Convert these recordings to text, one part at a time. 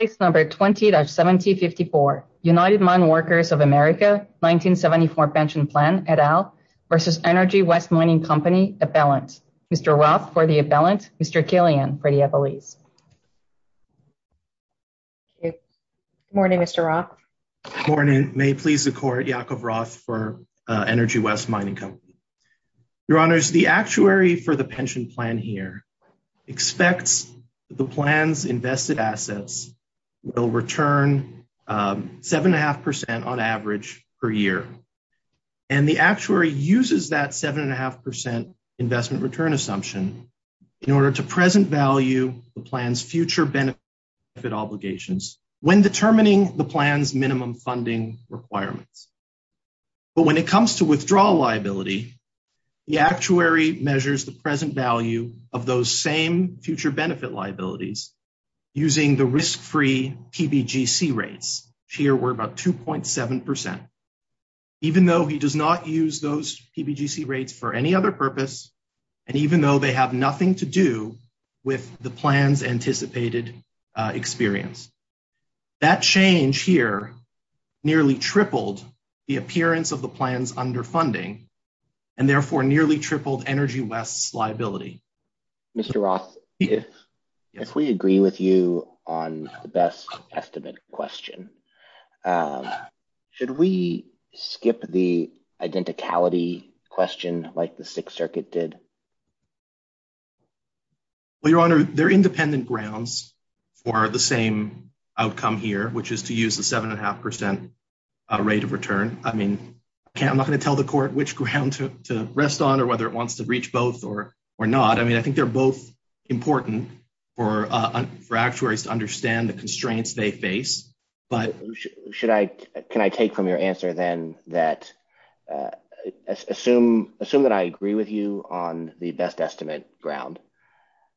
Case number 20-1754, United Mine Workers of America 1974 pension plan et al. v. Energy West Mining Company appellant. Mr. Roth for the appellant, Mr. Killian for the appellees. Good morning Mr. Roth. Good morning, may it please the court, Jacob Roth for Energy West Mining Company. Your honors, the actuary for the pension plan here expects the plan's invested assets will return seven and a half percent on average per year. And the actuary uses that seven and a half percent investment return assumption in order to present value the plan's future benefit obligations when determining the plan's minimum funding requirements. But when it comes to withdrawal liability, the actuary measures the present value of those same future benefit liabilities using the risk-free PBGC rates. Here we're about 2.7 percent, even though he does not use those PBGC rates for any other purpose and even though they have nothing to do with the plan's anticipated experience. That change here nearly tripled the appearance of the plans under funding and therefore nearly tripled Energy West's liability. Mr. Roth, if we agree with you on the best estimate question, should we skip the identicality question like the Sixth Circuit did? Well, your honor, there are independent grounds for the same outcome here, which is to use the seven and a half percent rate of return. I mean, I'm not going to tell the court which ground to use here, whether it wants to reach both or or not. I mean, I think they're both important for actuaries to understand the constraints they face. But should I, can I take from your answer then that assume that I agree with you on the best estimate ground.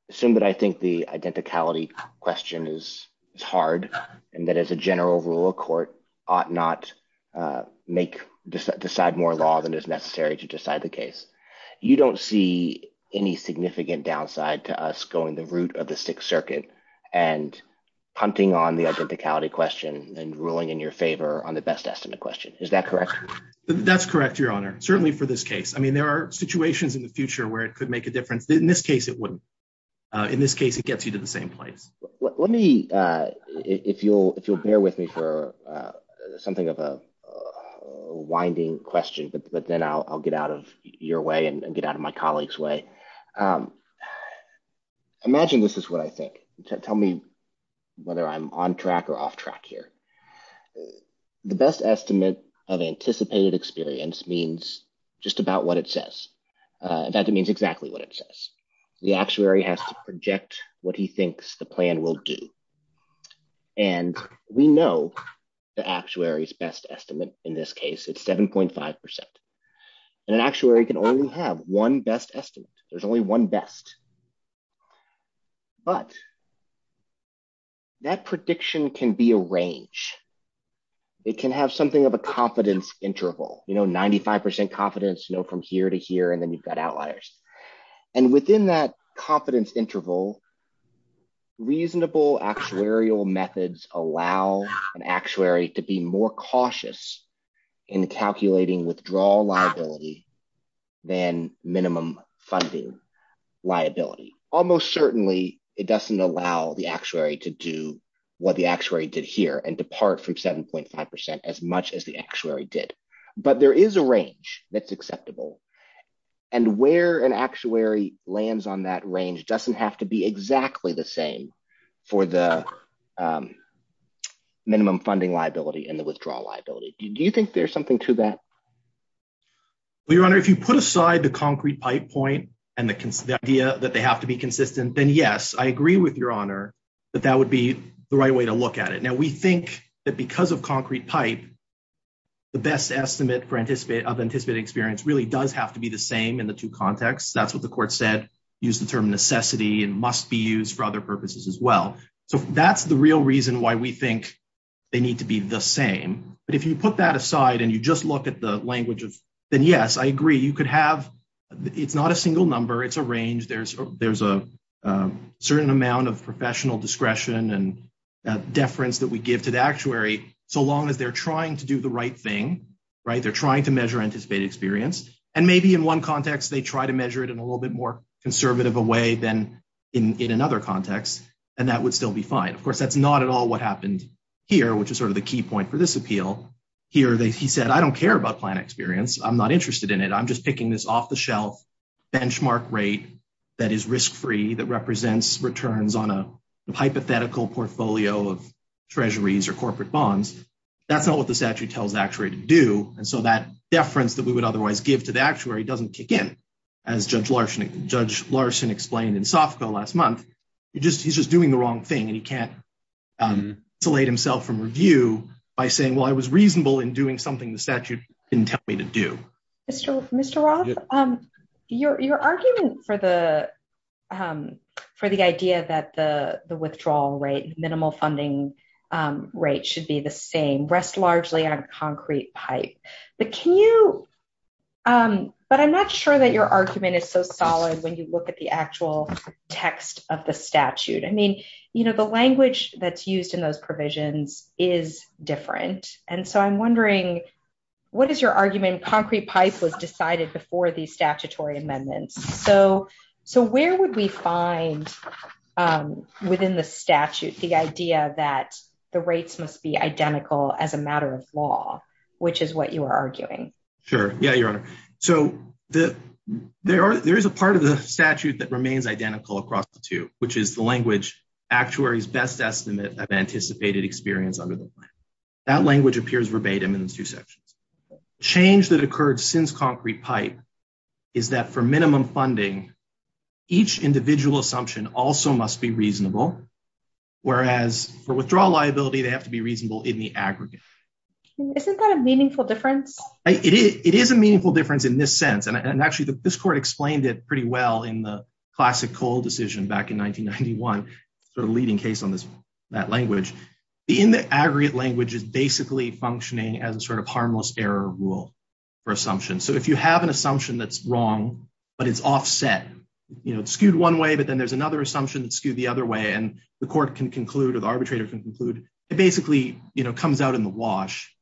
Assume that I think the identicality question is hard and that as a general rule of court ought not make, decide more law than is necessary to decide the case. You don't see any significant downside to us going the route of the Sixth Circuit and hunting on the identicality question and ruling in your favor on the best estimate question. Is that correct? That's correct, your honor, certainly for this case. I mean, there are situations in the future where it could make a difference. In this case, it wouldn't. In this case, it gets you to the same place. Let me, if you'll bear with me for something of a winding question, but then I'll get out of your way and get out of my colleagues way. Imagine this is what I think. Tell me whether I'm on track or off track here. The best estimate of anticipated experience means just about what it says. That means exactly what it says. The actuary has to project what he thinks the plan will do. And we know the actuary's best estimate in this case, it's 7.5%. And an actuary can only have one best estimate. There's only one best. But that prediction can be a range. It can have something of a confidence interval, you know, 95% confidence, you know, from here to here, and then you've got outliers. And within that confidence interval, reasonable actuarial methods allow an actuary to be more cautious in calculating withdrawal liability than minimum funding liability. Almost certainly, it doesn't allow the actuary to do what the actuary did here and depart from 7.5% as much the actuary did. But there is a range that's acceptable. And where an actuary lands on that range doesn't have to be exactly the same for the minimum funding liability and the withdrawal liability. Do you think there's something to that? Well, Your Honor, if you put aside the concrete pipe point, and the idea that they have to be consistent, then yes, I agree with Your Honor, that that would be the right way to look at it. Now, we think that because of concrete pipe, the best estimate of anticipated experience really does have to be the same in the two contexts. That's what the court said, used the term necessity and must be used for other purposes as well. So that's the real reason why we think they need to be the same. But if you put that aside, and you just look at the language of, then yes, I agree, you could have, it's not a single number, it's a range, there's a certain amount of professional discretion and deference that we give to the actuary, so long as they're trying to do the right thing, right? They're trying to measure anticipated experience. And maybe in one context, they try to measure it in a little bit more conservative a way than in another context. And that would still be fine. Of course, that's not at all what happened here, which is sort of the key point for this appeal. Here, he said, I don't care about plan experience. I'm not interested in it. I'm just picking this off the shelf benchmark rate that is risk-free, that represents returns on hypothetical portfolio of treasuries or corporate bonds. That's not what the statute tells the actuary to do. And so that deference that we would otherwise give to the actuary doesn't kick in, as Judge Larson explained in Sofco last month. He's just doing the wrong thing, and he can't isolate himself from review by saying, well, I was reasonable in doing something the statute didn't tell me to do. Mr. Roth, your argument for the idea that the withdrawal rate, minimal funding rate, should be the same rests largely on concrete pipe. But I'm not sure that your argument is so solid when you look at the actual text of the statute. I mean, the language that's used in those provisions is different. And so I'm wondering, what is your argument concrete pipe was decided before these statutory amendments? So where would we find within the statute the idea that the rates must be identical as a matter of law, which is what you are arguing? Sure. Yeah, Your Honor. So there is a part of the statute that remains identical across the two, which is the language actuary's best estimate of anticipated experience under the plan. That language appears verbatim in these two sections. Change that occurred since concrete pipe is that for minimum funding, each individual assumption also must be reasonable, whereas for withdrawal liability, they have to be reasonable in the aggregate. Isn't that a meaningful difference? It is a meaningful difference in this sense. And sort of leading case on this, that language in the aggregate language is basically functioning as a sort of harmless error rule for assumption. So if you have an assumption that's wrong, but it's offset skewed one way, but then there's another assumption that skewed the other way and the court can conclude or the arbitrator can conclude it basically comes out in the wash,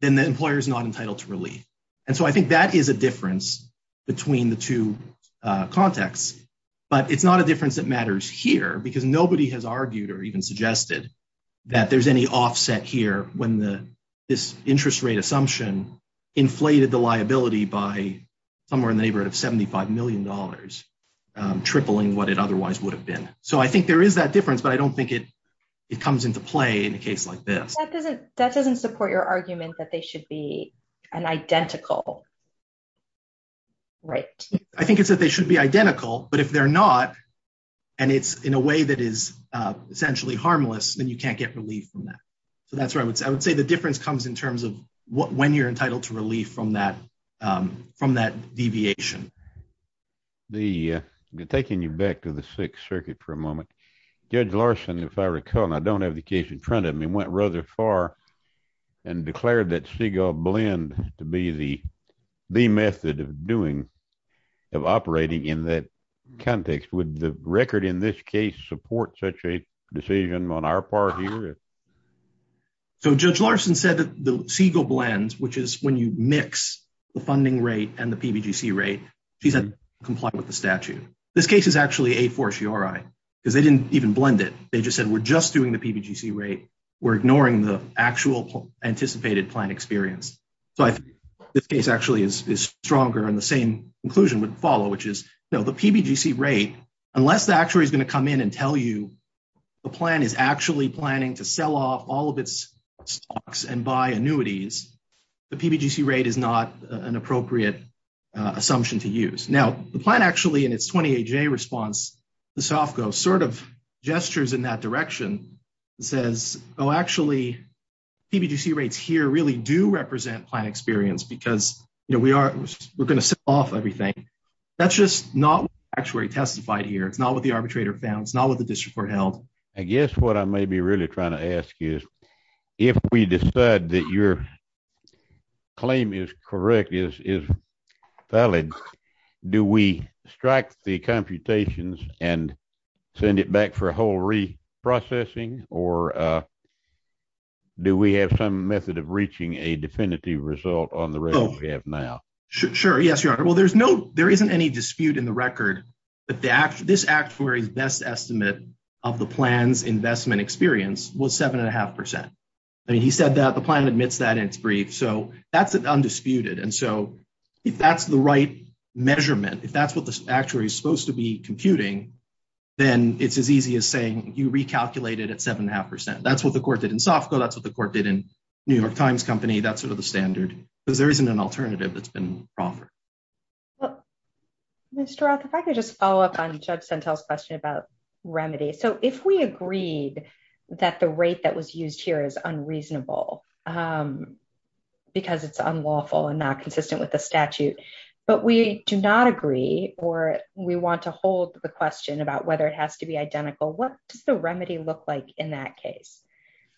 then the employer is not entitled to relief. And so I think that is a difference between the two contexts. But it's not a difference that matters here because nobody has argued or even suggested that there's any offset here when this interest rate assumption inflated the liability by somewhere in the neighborhood of $75 million, tripling what it otherwise would have been. So I think there is that difference, but I don't think it comes into play in a case like this. That doesn't support your argument that they should be an identical rate. I think it's that they should be identical, but if they're not, and it's in a way that is essentially harmless, then you can't get relief from that. So that's where I would say the difference comes in terms of when you're entitled to relief from that deviation. I'm taking you back to the Sixth Circuit for a moment. Judge Larson, if I recall, and I don't have the case in front of me, went rather far and declared that Segal blend to be the method of operating in that context. Would the record in this case support such a decision on our part here? So Judge Larson said that the Segal blend, which is when you mix the funding rate and the PBGC rate, she said comply with the statute. This case is actually a fortiori because they didn't even blend it. They just said we're just doing the PBGC rate, we're ignoring the actual anticipated plan experience. So I think this case actually is stronger and the same conclusion would follow, which is the PBGC rate, unless the actuary is going to come in and tell you the plan is actually planning to sell off all of its stocks and buy annuities, the PBGC rate is not an appropriate assumption to use. Now the plan actually in its response, the SOFCO sort of gestures in that direction and says, oh, actually, PBGC rates here really do represent plan experience because we're going to sell off everything. That's just not what the actuary testified here. It's not what the arbitrator found. It's not what the district court held. I guess what I may be really trying to ask you is, if we decide that your claim is correct, is valid, do we strike the computations and send it back for a whole reprocessing, or do we have some method of reaching a definitive result on the record we have now? Sure, yes, your honor. Well, there isn't any dispute in the record that this actuary's best estimate of the plan's investment experience was seven and a half percent. I mean, he said that the plan admits that in its brief, so that's undisputed. And so if that's the right measurement, if that's what the actuary is supposed to be computing, then it's as easy as saying you recalculated at seven and a half percent. That's what the court did in SOFCO. That's what the court did in New York Times Company. That's sort of the standard because there isn't an alternative that's been offered. Well, Mr. Roth, if I could just follow up on Judge Sentel's question about remedy. So if we agreed that the rate that was used here is unreasonable because it's unlawful and not consistent with the statute, but we do not agree, or we want to hold the question about whether it has to be identical, what does the remedy look like in that case?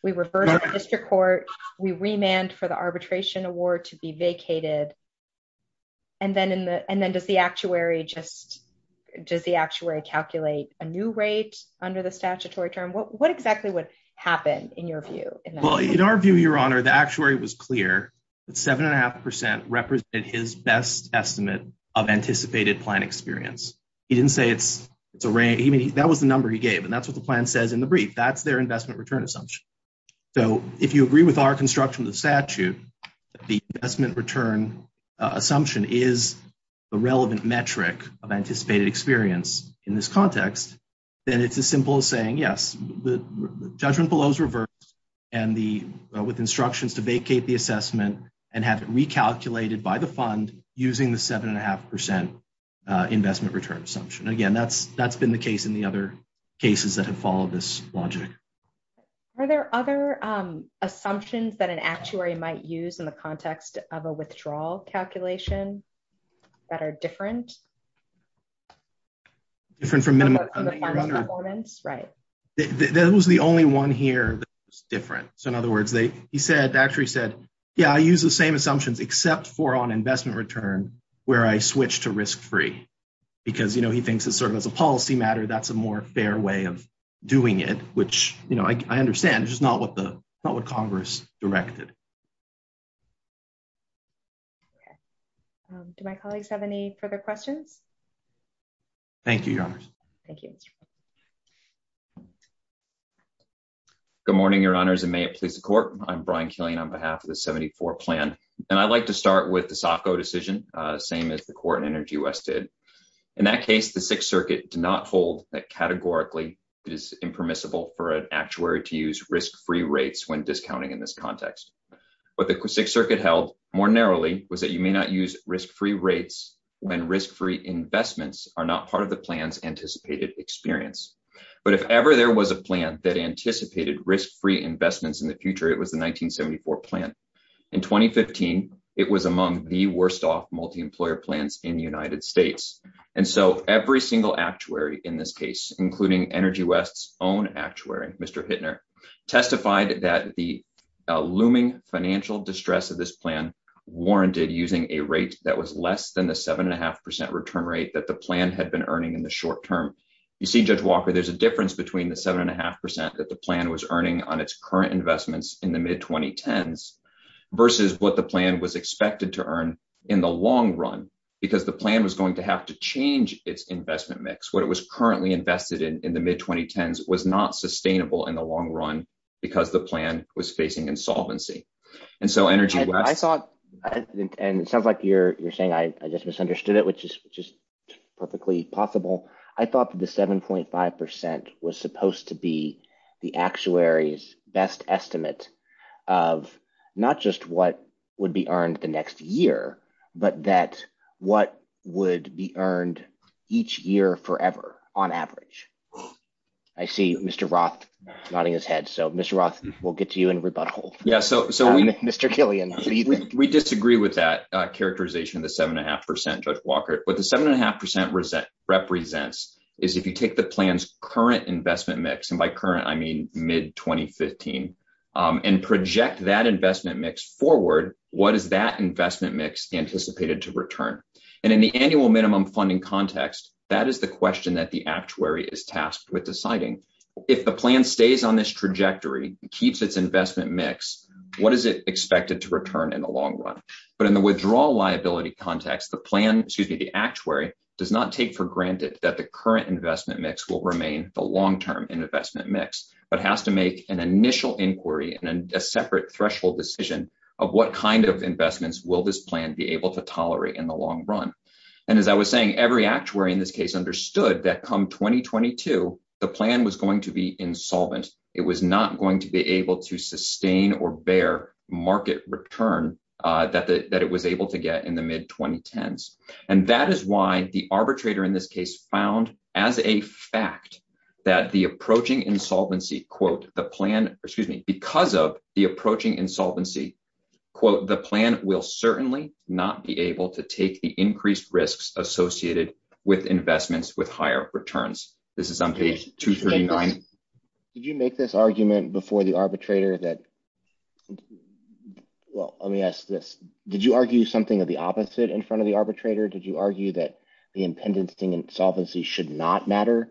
We refer to the district court, we remand for the arbitration award to be vacated, and then does the actuary calculate a new rate under the statutory term? What exactly would happen in your view? Well, in our view, Your Honor, the actuary was clear that seven and a half percent represented his best estimate of anticipated plan experience. He didn't say it's a rate. That was the number he gave, and that's what the plan says in the brief. That's their investment return assumption. So if you agree with our construction of the statute, the investment return assumption is the relevant metric of anticipated experience in this context, then it's as simple as saying, yes, the judgment below is reversed with instructions to vacate the assessment and have it recalculated by the fund using the seven and a half percent investment return assumption. Again, that's been the case in the other cases that have followed this logic. Are there other assumptions that an actuary might use in the context of a withdrawal calculation that are different? Different from minimum performance, right? That was the only one here that was different. So in other words, he said, actually said, yeah, I use the same assumptions except for on investment return where I switch to risk-free because, you know, he thinks it's a policy matter. That's a more fair way of doing it, which, you know, I understand, it's just not what Congress directed. Do my colleagues have any further questions? Thank you, Your Honors. Thank you. Good morning, Your Honors, and may it please the court. I'm Brian Killian on behalf of the 74 plan, and I'd like to start with the Sacco decision, same as the court in Energy West did. In that case, the Sixth Circuit did not hold that categorically it is impermissible for an actuary to use risk-free rates when discounting in this context. What the Sixth Circuit held more narrowly was that you may not use risk-free rates when risk-free investments are not part of the plan's anticipated experience. But if ever there was a plan that anticipated risk-free investments in the future, it was the 1974 plan. In 2015, it was among the worst off multi-employer plans in the United States. And so every single actuary in this case, including Energy West's own actuary, Mr. Hittner, testified that the looming financial distress of this plan warranted using a rate that was less than the 7.5% return rate that the plan had been earning in the short term. You see, Judge Walker, there's a difference between the 7.5% that the plan was earning on its current investments in the mid-2010s versus what the plan was expected to earn in the long run because the plan was going to have to change its investment mix. What it was currently invested in in the mid-2010s was not sustainable in the long run because the plan was facing insolvency. And so Energy West- I thought, and it sounds like you're saying I just misunderstood it, which is just perfectly possible. I thought that the 7.5% was supposed to be the actuary's best estimate of not just what would be earned the next year, but that what would be earned each year forever on average. I see Mr. Roth nodding his head. So Mr. Roth, we'll get to you in rebuttal. Yeah, so we- Mr. Killian, what do you think? We disagree with that characterization of the 7.5%, Judge Walker. What the 7.5% represents is if you take the plan's current investment mix, and by current, I mean mid-2015, and project that investment mix forward, what is that investment mix anticipated to return? And in the annual minimum funding context, that is the question that the actuary is tasked with deciding. If the plan stays on this trajectory, keeps its investment mix, what is it expected to return in the long run? But in the withdrawal liability context, the plan, excuse me, the actuary does not take for granted that the current investment mix will remain the initial inquiry and a separate threshold decision of what kind of investments will this plan be able to tolerate in the long run. And as I was saying, every actuary in this case understood that come 2022, the plan was going to be insolvent. It was not going to be able to sustain or bear market return that it was able to get in the mid-2010s. And that is why the arbitrator in this case found as a fact that the approaching insolvency, quote, the plan, excuse me, because of the approaching insolvency, quote, the plan will certainly not be able to take the increased risks associated with investments with higher returns. This is on page 239. Did you make this argument before the arbitrator that, well, let me ask this. Did you argue something of the opposite in front of the arbitrator? Did you argue that the impendency insolvency should not matter?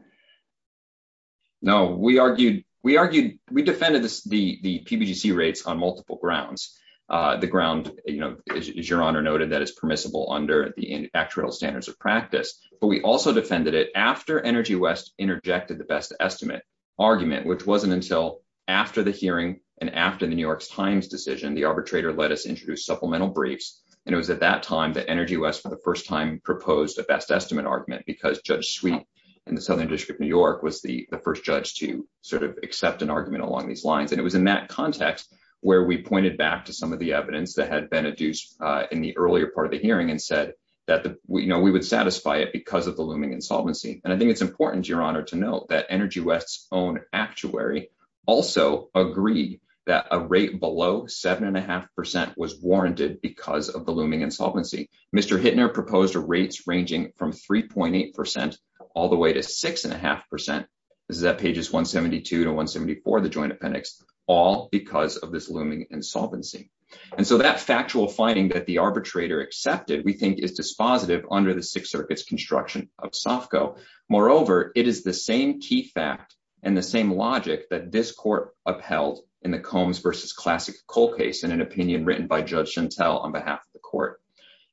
No, we argued, we argued, we defended this, the, the PBGC rates on multiple grounds. The ground, you know, as your honor noted, that is permissible under the actual standards of practice, but we also defended it after Energy West interjected the best estimate argument, which wasn't until after the hearing. And after the New York Times decision, the arbitrator let us introduce supplemental briefs. And it was at that time that Energy West for the first time proposed a best estimate argument because Judge Sweet in the Southern District of New York was the first judge to sort of accept an argument along these lines. And it was in that context where we pointed back to some of the evidence that had been adduced in the earlier part of the hearing and said that, you know, we would satisfy it because of the looming insolvency. And I think it's important your honor to note that Energy West's own actuary also agree that a rate below seven and a half percent was warranted because of the proposed rates ranging from 3.8% all the way to six and a half percent. This is at pages 172 to 174, the joint appendix, all because of this looming insolvency. And so that factual finding that the arbitrator accepted, we think is dispositive under the Sixth Circuit's construction of SOFCO. Moreover, it is the same key fact and the same logic that this court upheld in the Combs versus Classic Coal case in an opinion written by Judge Chantel on behalf of the court.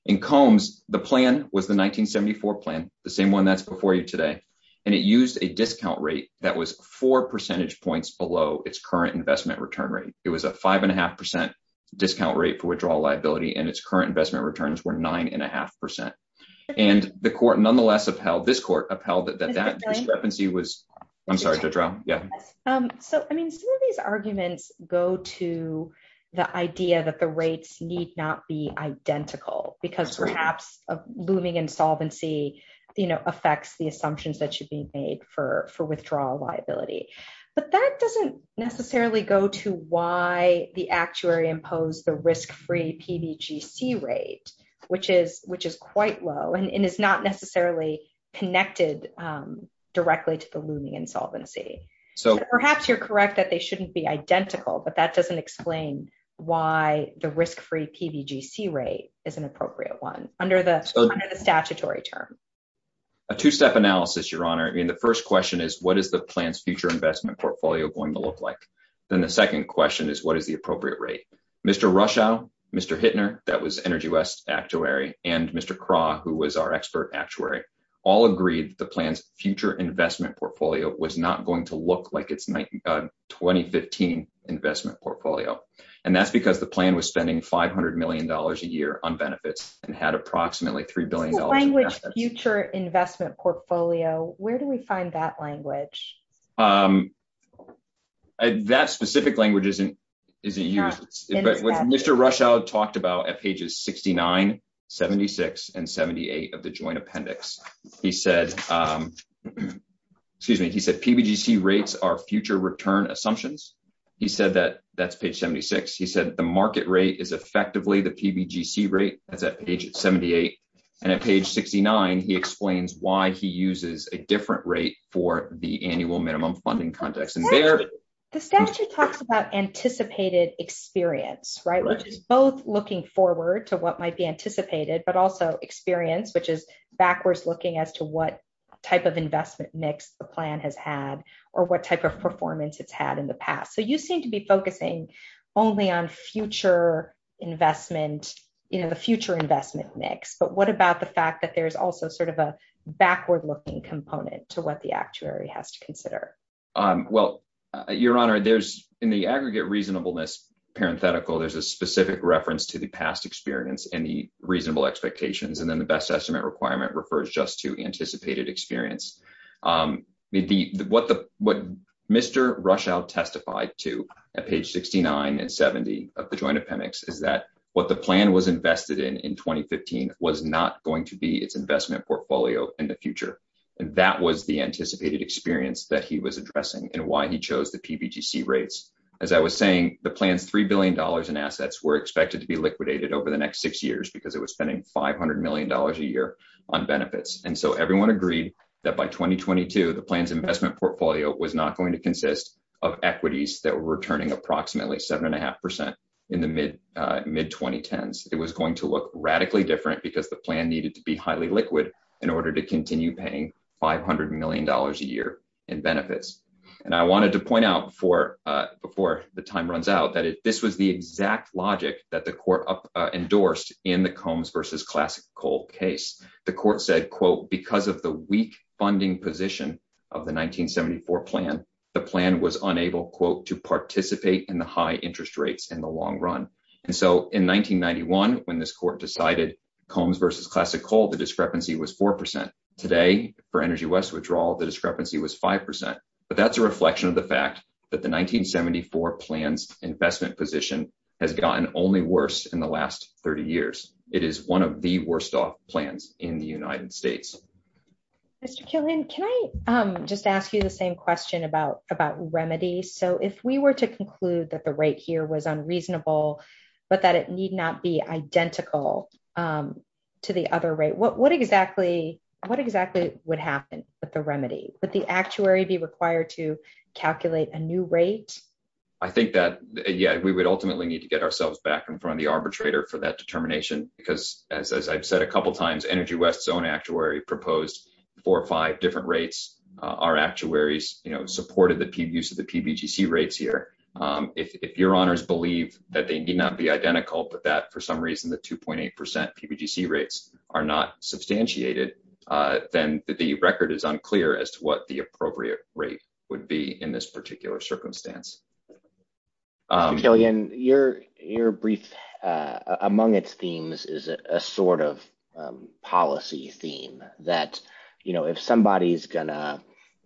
In Combs, the plan was the 1974 plan, the same one that's before you today. And it used a discount rate that was four percentage points below its current investment return rate. It was a five and a half percent discount rate for withdrawal liability and its current investment returns were nine and a half percent. And the court nonetheless upheld, this court upheld that that discrepancy was, I'm sorry, Judge Rao. Yeah. So, I mean, some of these arguments go to the idea that the rates need not be identical because perhaps a looming insolvency, you know, affects the assumptions that should be made for withdrawal liability. But that doesn't necessarily go to why the actuary imposed the risk-free PBGC rate, which is quite low and is not necessarily connected directly to the looming insolvency. So perhaps you're correct that they shouldn't be identical, but that doesn't explain why the risk-free PBGC rate is an appropriate one under the statutory term. A two-step analysis, Your Honor. I mean, the first question is what is the plan's future investment portfolio going to look like? Then the second question is what is the appropriate rate? Mr. Rushow, Mr. Hittner, that was Energy West Actuary, and Mr. Krah, who was our expert actuary, all agreed the plan's future investment portfolio was not going to look like its 2015 investment portfolio. And that's because the plan was spending $500 million a year on benefits and had approximately $3 billion in assets. Future investment portfolio, where do we find that language? That specific language isn't used. But what Mr. Rushow talked about at pages 69, 76, and 78 of the joint appendix, he said, excuse me, he said PBGC rates are future return assumptions. He said that that's page 76. He said the market rate is effectively the PBGC rate, that's at page 78. And at page 69, he explains why he uses a different rate for the annual minimum funding context. The statute talks about anticipated experience, right, which is both looking forward to what might be anticipated, but also experience, which is backwards looking as to what type of investment mix the plan has had, or what type of performance it's had in the past. So you seem to be focusing only on future investment, you know, the future investment mix. But what about the fact that there's also sort of a backward looking component to what the actuary has to consider? Well, Your Honor, there's in the aggregate reasonableness, parenthetical, there's a specific reference to the past experience and the reasonable expectations. And then the best estimate requirement refers just to anticipated experience. What Mr. Rushow testified to at page 69 and 70 of the joint appendix is that what the plan was invested in in 2015 was not going to be its investment portfolio in the future. And that was the anticipated experience that he was addressing and why he chose the PBGC rates. As I was saying, the plan's $3 billion in assets were expected to be liquidated over the next six years because it was spending $500 million a year on benefits. And so everyone agreed that by 2022, the plan's investment portfolio was not going to consist of equities that were returning approximately 7.5% in the mid 2010s. It was going to look radically different because the plan needed to be highly liquid in order to continue paying $500 million a year in benefits. And I wanted to point out before the time runs out that this was the exact logic that the court endorsed in the Combs versus Classic Coal case. The court said, quote, because of the weak funding position of the 1974 plan, the plan was unable, quote, to participate in the high interest rates in the long run. And so in 1991, when this court decided Combs versus Classic Coal, the discrepancy was 4%. Today, for Energy West withdrawal, the discrepancy was 5%. But that's a reflection of the fact that the 1974 plan's investment position has gotten only worse in the last 30 years. It is one of the worst off plans in the United States. Mr. Killian, can I just ask you the same question about remedy? So if we were to conclude that the rate here was unreasonable, but that it need not be identical to the other rate, what exactly would happen with the remedy? Would the actuary be required to calculate a new rate? I think that, yeah, we would ultimately need to get ourselves back in front of the arbitrator for that determination because, as I've said a couple times, Energy West's own actuary proposed four or five different rates. Our actuaries supported the use of the PBGC rates here. If your honors believe that they need not be identical, but that, for some reason, the 2.8% PBGC rates are not substantiated, then the record is unclear as to what the appropriate rate would be in this particular circumstance. Mr. Killian, your brief among its themes is a sort of policy theme that if somebody's gonna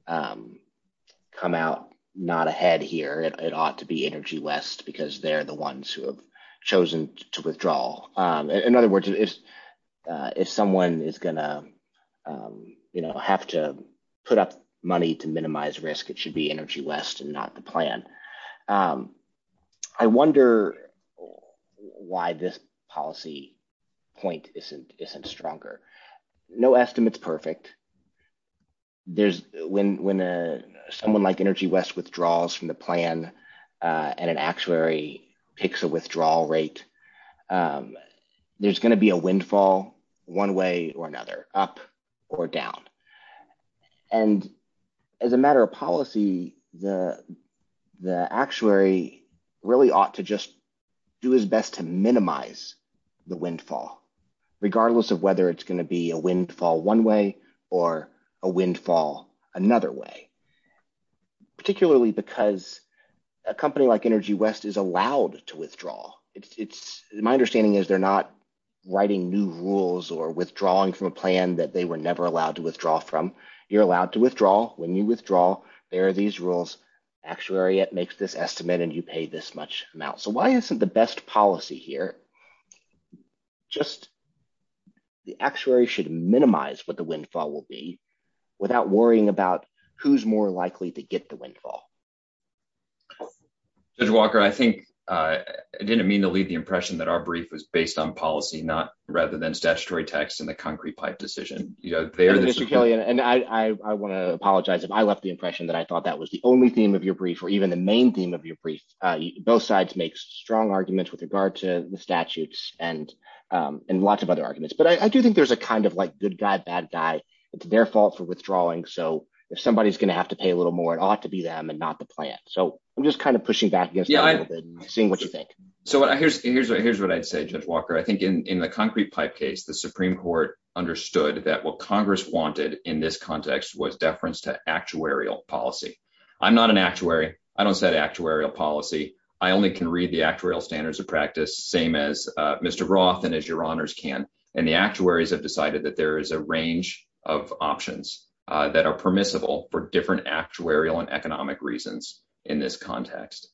come out not ahead here, it ought to be Energy West because they're the ones who have chosen to withdraw. In other words, if someone is gonna have to put up money to minimize risk, it should be Energy West and not the plan. I wonder why this policy point isn't stronger. No estimate's perfect. When someone like Energy West withdraws from the plan and an actuary picks a withdrawal rate, there's gonna be a windfall one way or another, up or down. And as a matter of policy, the actuary really ought to just do his best to minimize the windfall, regardless of whether it's gonna be a windfall one way or a windfall another way, particularly because a company like Energy West is allowed to withdraw. My understanding is they're not writing new rules or withdrawing from a plan that they were never allowed to withdraw from. You're allowed to withdraw. When you withdraw, there are these rules. Actuary makes this estimate and you pay this much amount. So, why isn't the best policy here just the actuary should minimize what the windfall will be without worrying about who's more likely to get the windfall? Judge Walker, I think I didn't mean to leave the impression that our brief was based on policy, not rather than statutory text and the concrete pipe decision. Mr. Kelly, I want to apologize if I left the impression that I thought that was the only theme of your brief or even the main theme of your brief. Both sides make strong arguments with regard to the statutes and lots of other arguments. But I do think there's a kind of like good guy, bad guy. It's their fault for withdrawing. So, if somebody's gonna have to pay a little more, it ought to be them and not the plant. So, I'm just kind of pushing back against that a little bit and seeing what you think. So, here's what I'd say, Judge Walker. I think in the concrete pipe case, the Supreme Court understood that what Congress wanted in this context was deference to actuarial policy. I'm not an actuary. I don't set actuarial policy. I only can read the actuarial standards of practice, same as Mr. Roth and as your honors can. And the actuaries have decided that there is a range of options that are permissible for different actuarial and economic reasons in this context.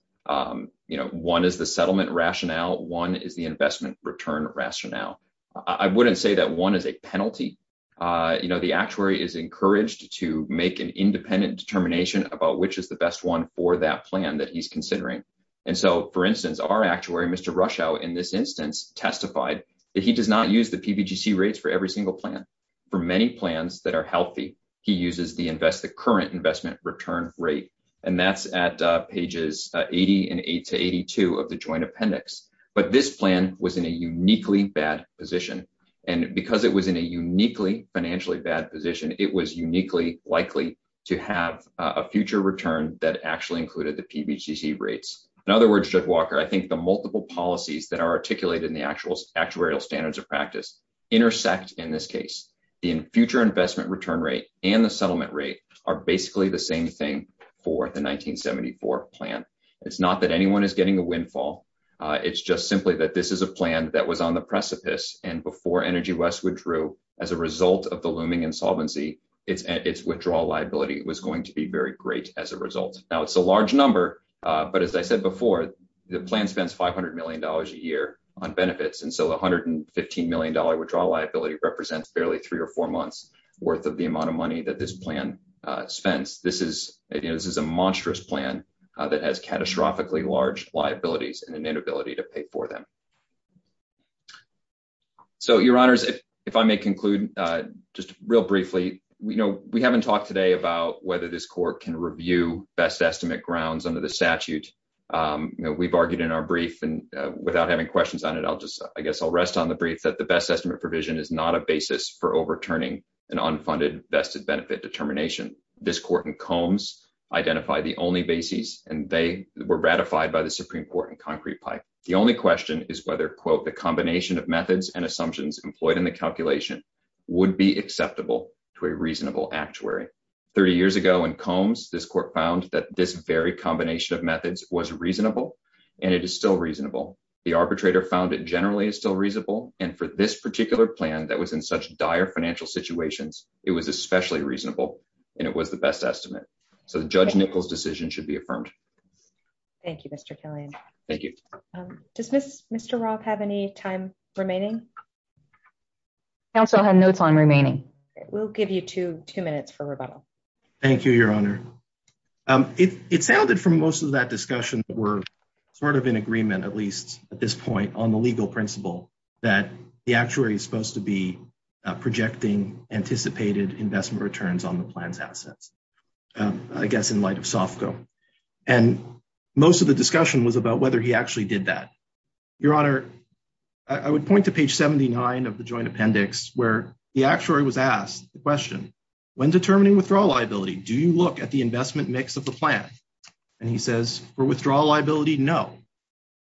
You know, one is the settlement rationale. One is the investment return rationale. I wouldn't say that one is a penalty. You know, the actuary is encouraged to make an independent determination about which is the best one for that plan that he's considering. And so, for instance, our actuary, Mr. Rushow, in this instance, testified that he does not use the for many plans that are healthy. He uses the invest, the current investment return rate. And that's at pages 80 and 8 to 82 of the joint appendix. But this plan was in a uniquely bad position. And because it was in a uniquely financially bad position, it was uniquely likely to have a future return that actually included the PBTC rates. In other words, Judge Walker, I think the multiple policies that are articulated in the actual actuarial standards of practice intersect in this case. The future investment return rate and the settlement rate are basically the same thing for the 1974 plan. It's not that anyone is getting a windfall. It's just simply that this is a plan that was on the precipice. And before Energy West withdrew, as a result of the looming insolvency, its withdrawal liability was going to be very great as a result. Now, it's a large number. But as I said before, the plan spends $500 million a year on benefits. And so the $115 million withdrawal liability represents barely three or four months worth of the amount of money that this plan spends. This is a monstrous plan that has catastrophically large liabilities and an inability to pay for them. So, Your Honors, if I may conclude just real briefly, we haven't talked today about whether this court can review best estimate grounds under the statute. We've argued in our brief, without having questions on it, I guess I'll rest on the brief that the best estimate provision is not a basis for overturning an unfunded vested benefit determination. This court in Combs identified the only basis, and they were ratified by the Supreme Court in concrete pipe. The only question is whether, quote, the combination of methods and assumptions employed in the calculation would be acceptable to a reasonable actuary. 30 years ago in Combs, this court found that this very combination of methods was reasonable, and it is still reasonable. The arbitrator found it generally is still reasonable, and for this particular plan that was in such dire financial situations, it was especially reasonable, and it was the best estimate. So Judge Nichols' decision should be affirmed. Thank you, Mr. Killian. Thank you. Does Mr. Roth have any time remaining? Council had notes on remaining. We'll give you two minutes for rebuttal. Thank you, Your Honor. It sounded from most of that discussion we're sort of in agreement, at least at this point, on the legal principle that the actuary is supposed to be projecting anticipated investment returns on the plan's assets, I guess in light of SOFCO. And most of the discussion was about whether he actually did that. Your Honor, I would point to page 79 of the joint appendix where the actuary was asked the question, when determining withdrawal liability, do you look at the investment mix of the plan? And he says, for withdrawal liability, no.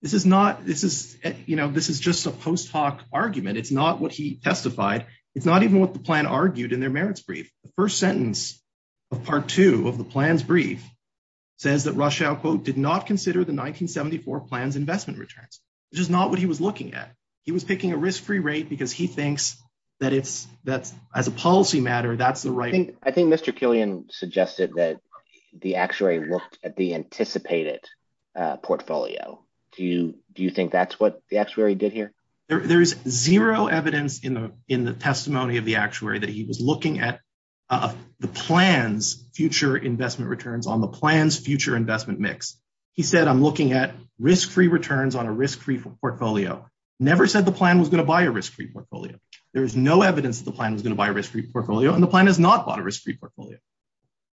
This is not, this is, you know, this is just a post hoc argument. It's not what he testified. It's not even what the plan argued in their merits brief. The first sentence of part two of the plan's brief says that Rothschild, quote, did not consider the 1974 plan's investment returns, which is not what he was looking at. He was picking a risk-free rate because he thinks that as a policy matter, that's the right. I think Mr. Killian suggested that the actuary looked at the anticipated portfolio. Do you think that's what the actuary did here? There is zero evidence in the testimony of the actuary that he was looking at the plan's future investment returns on the plan's future investment mix. He said, I'm looking at risk-free returns on a risk-free portfolio. Never said the plan was going to buy a risk-free portfolio. There is no evidence that the plan was going to buy a risk-free portfolio and the plan has not bought a risk-free portfolio.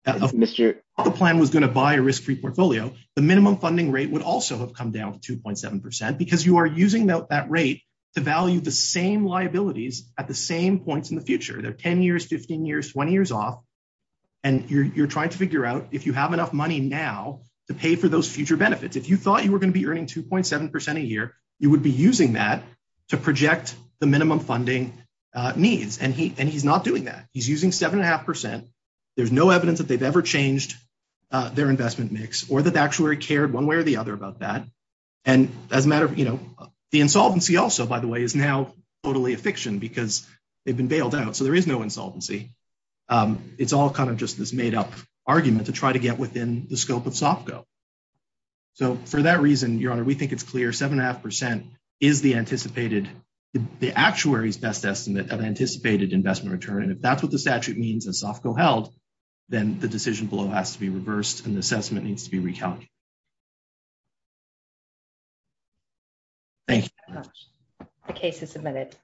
The plan was going to buy a risk-free portfolio. The minimum funding rate would also have come down to 2.7% because you are using that rate to value the same liabilities at the same points in the future. They're 10 years, 15 years, 20 years off. And you're trying to figure out if you have enough money now to pay for those future benefits. If you thought you were going to be earning 2.7% a year, you would be using that to project the minimum funding needs. And he's not doing that. He's using 7.5%. There's no evidence that they've ever changed their investment mix or that the actuary cared one way or the other about that. And the insolvency also, by the way, is now totally a fiction because they've been bailed out. So there is no insolvency. It's all kind of just this made up argument to try to get within the scope of SOFCO. So for that reason, Your Honor, we think it's clear 7.5% is the actuary's best estimate of anticipated investment return. And if that's what the statute means and SOFCO held, then the decision below has to be reversed and the assessment needs to be recalculated. Thank you very much. The case is submitted.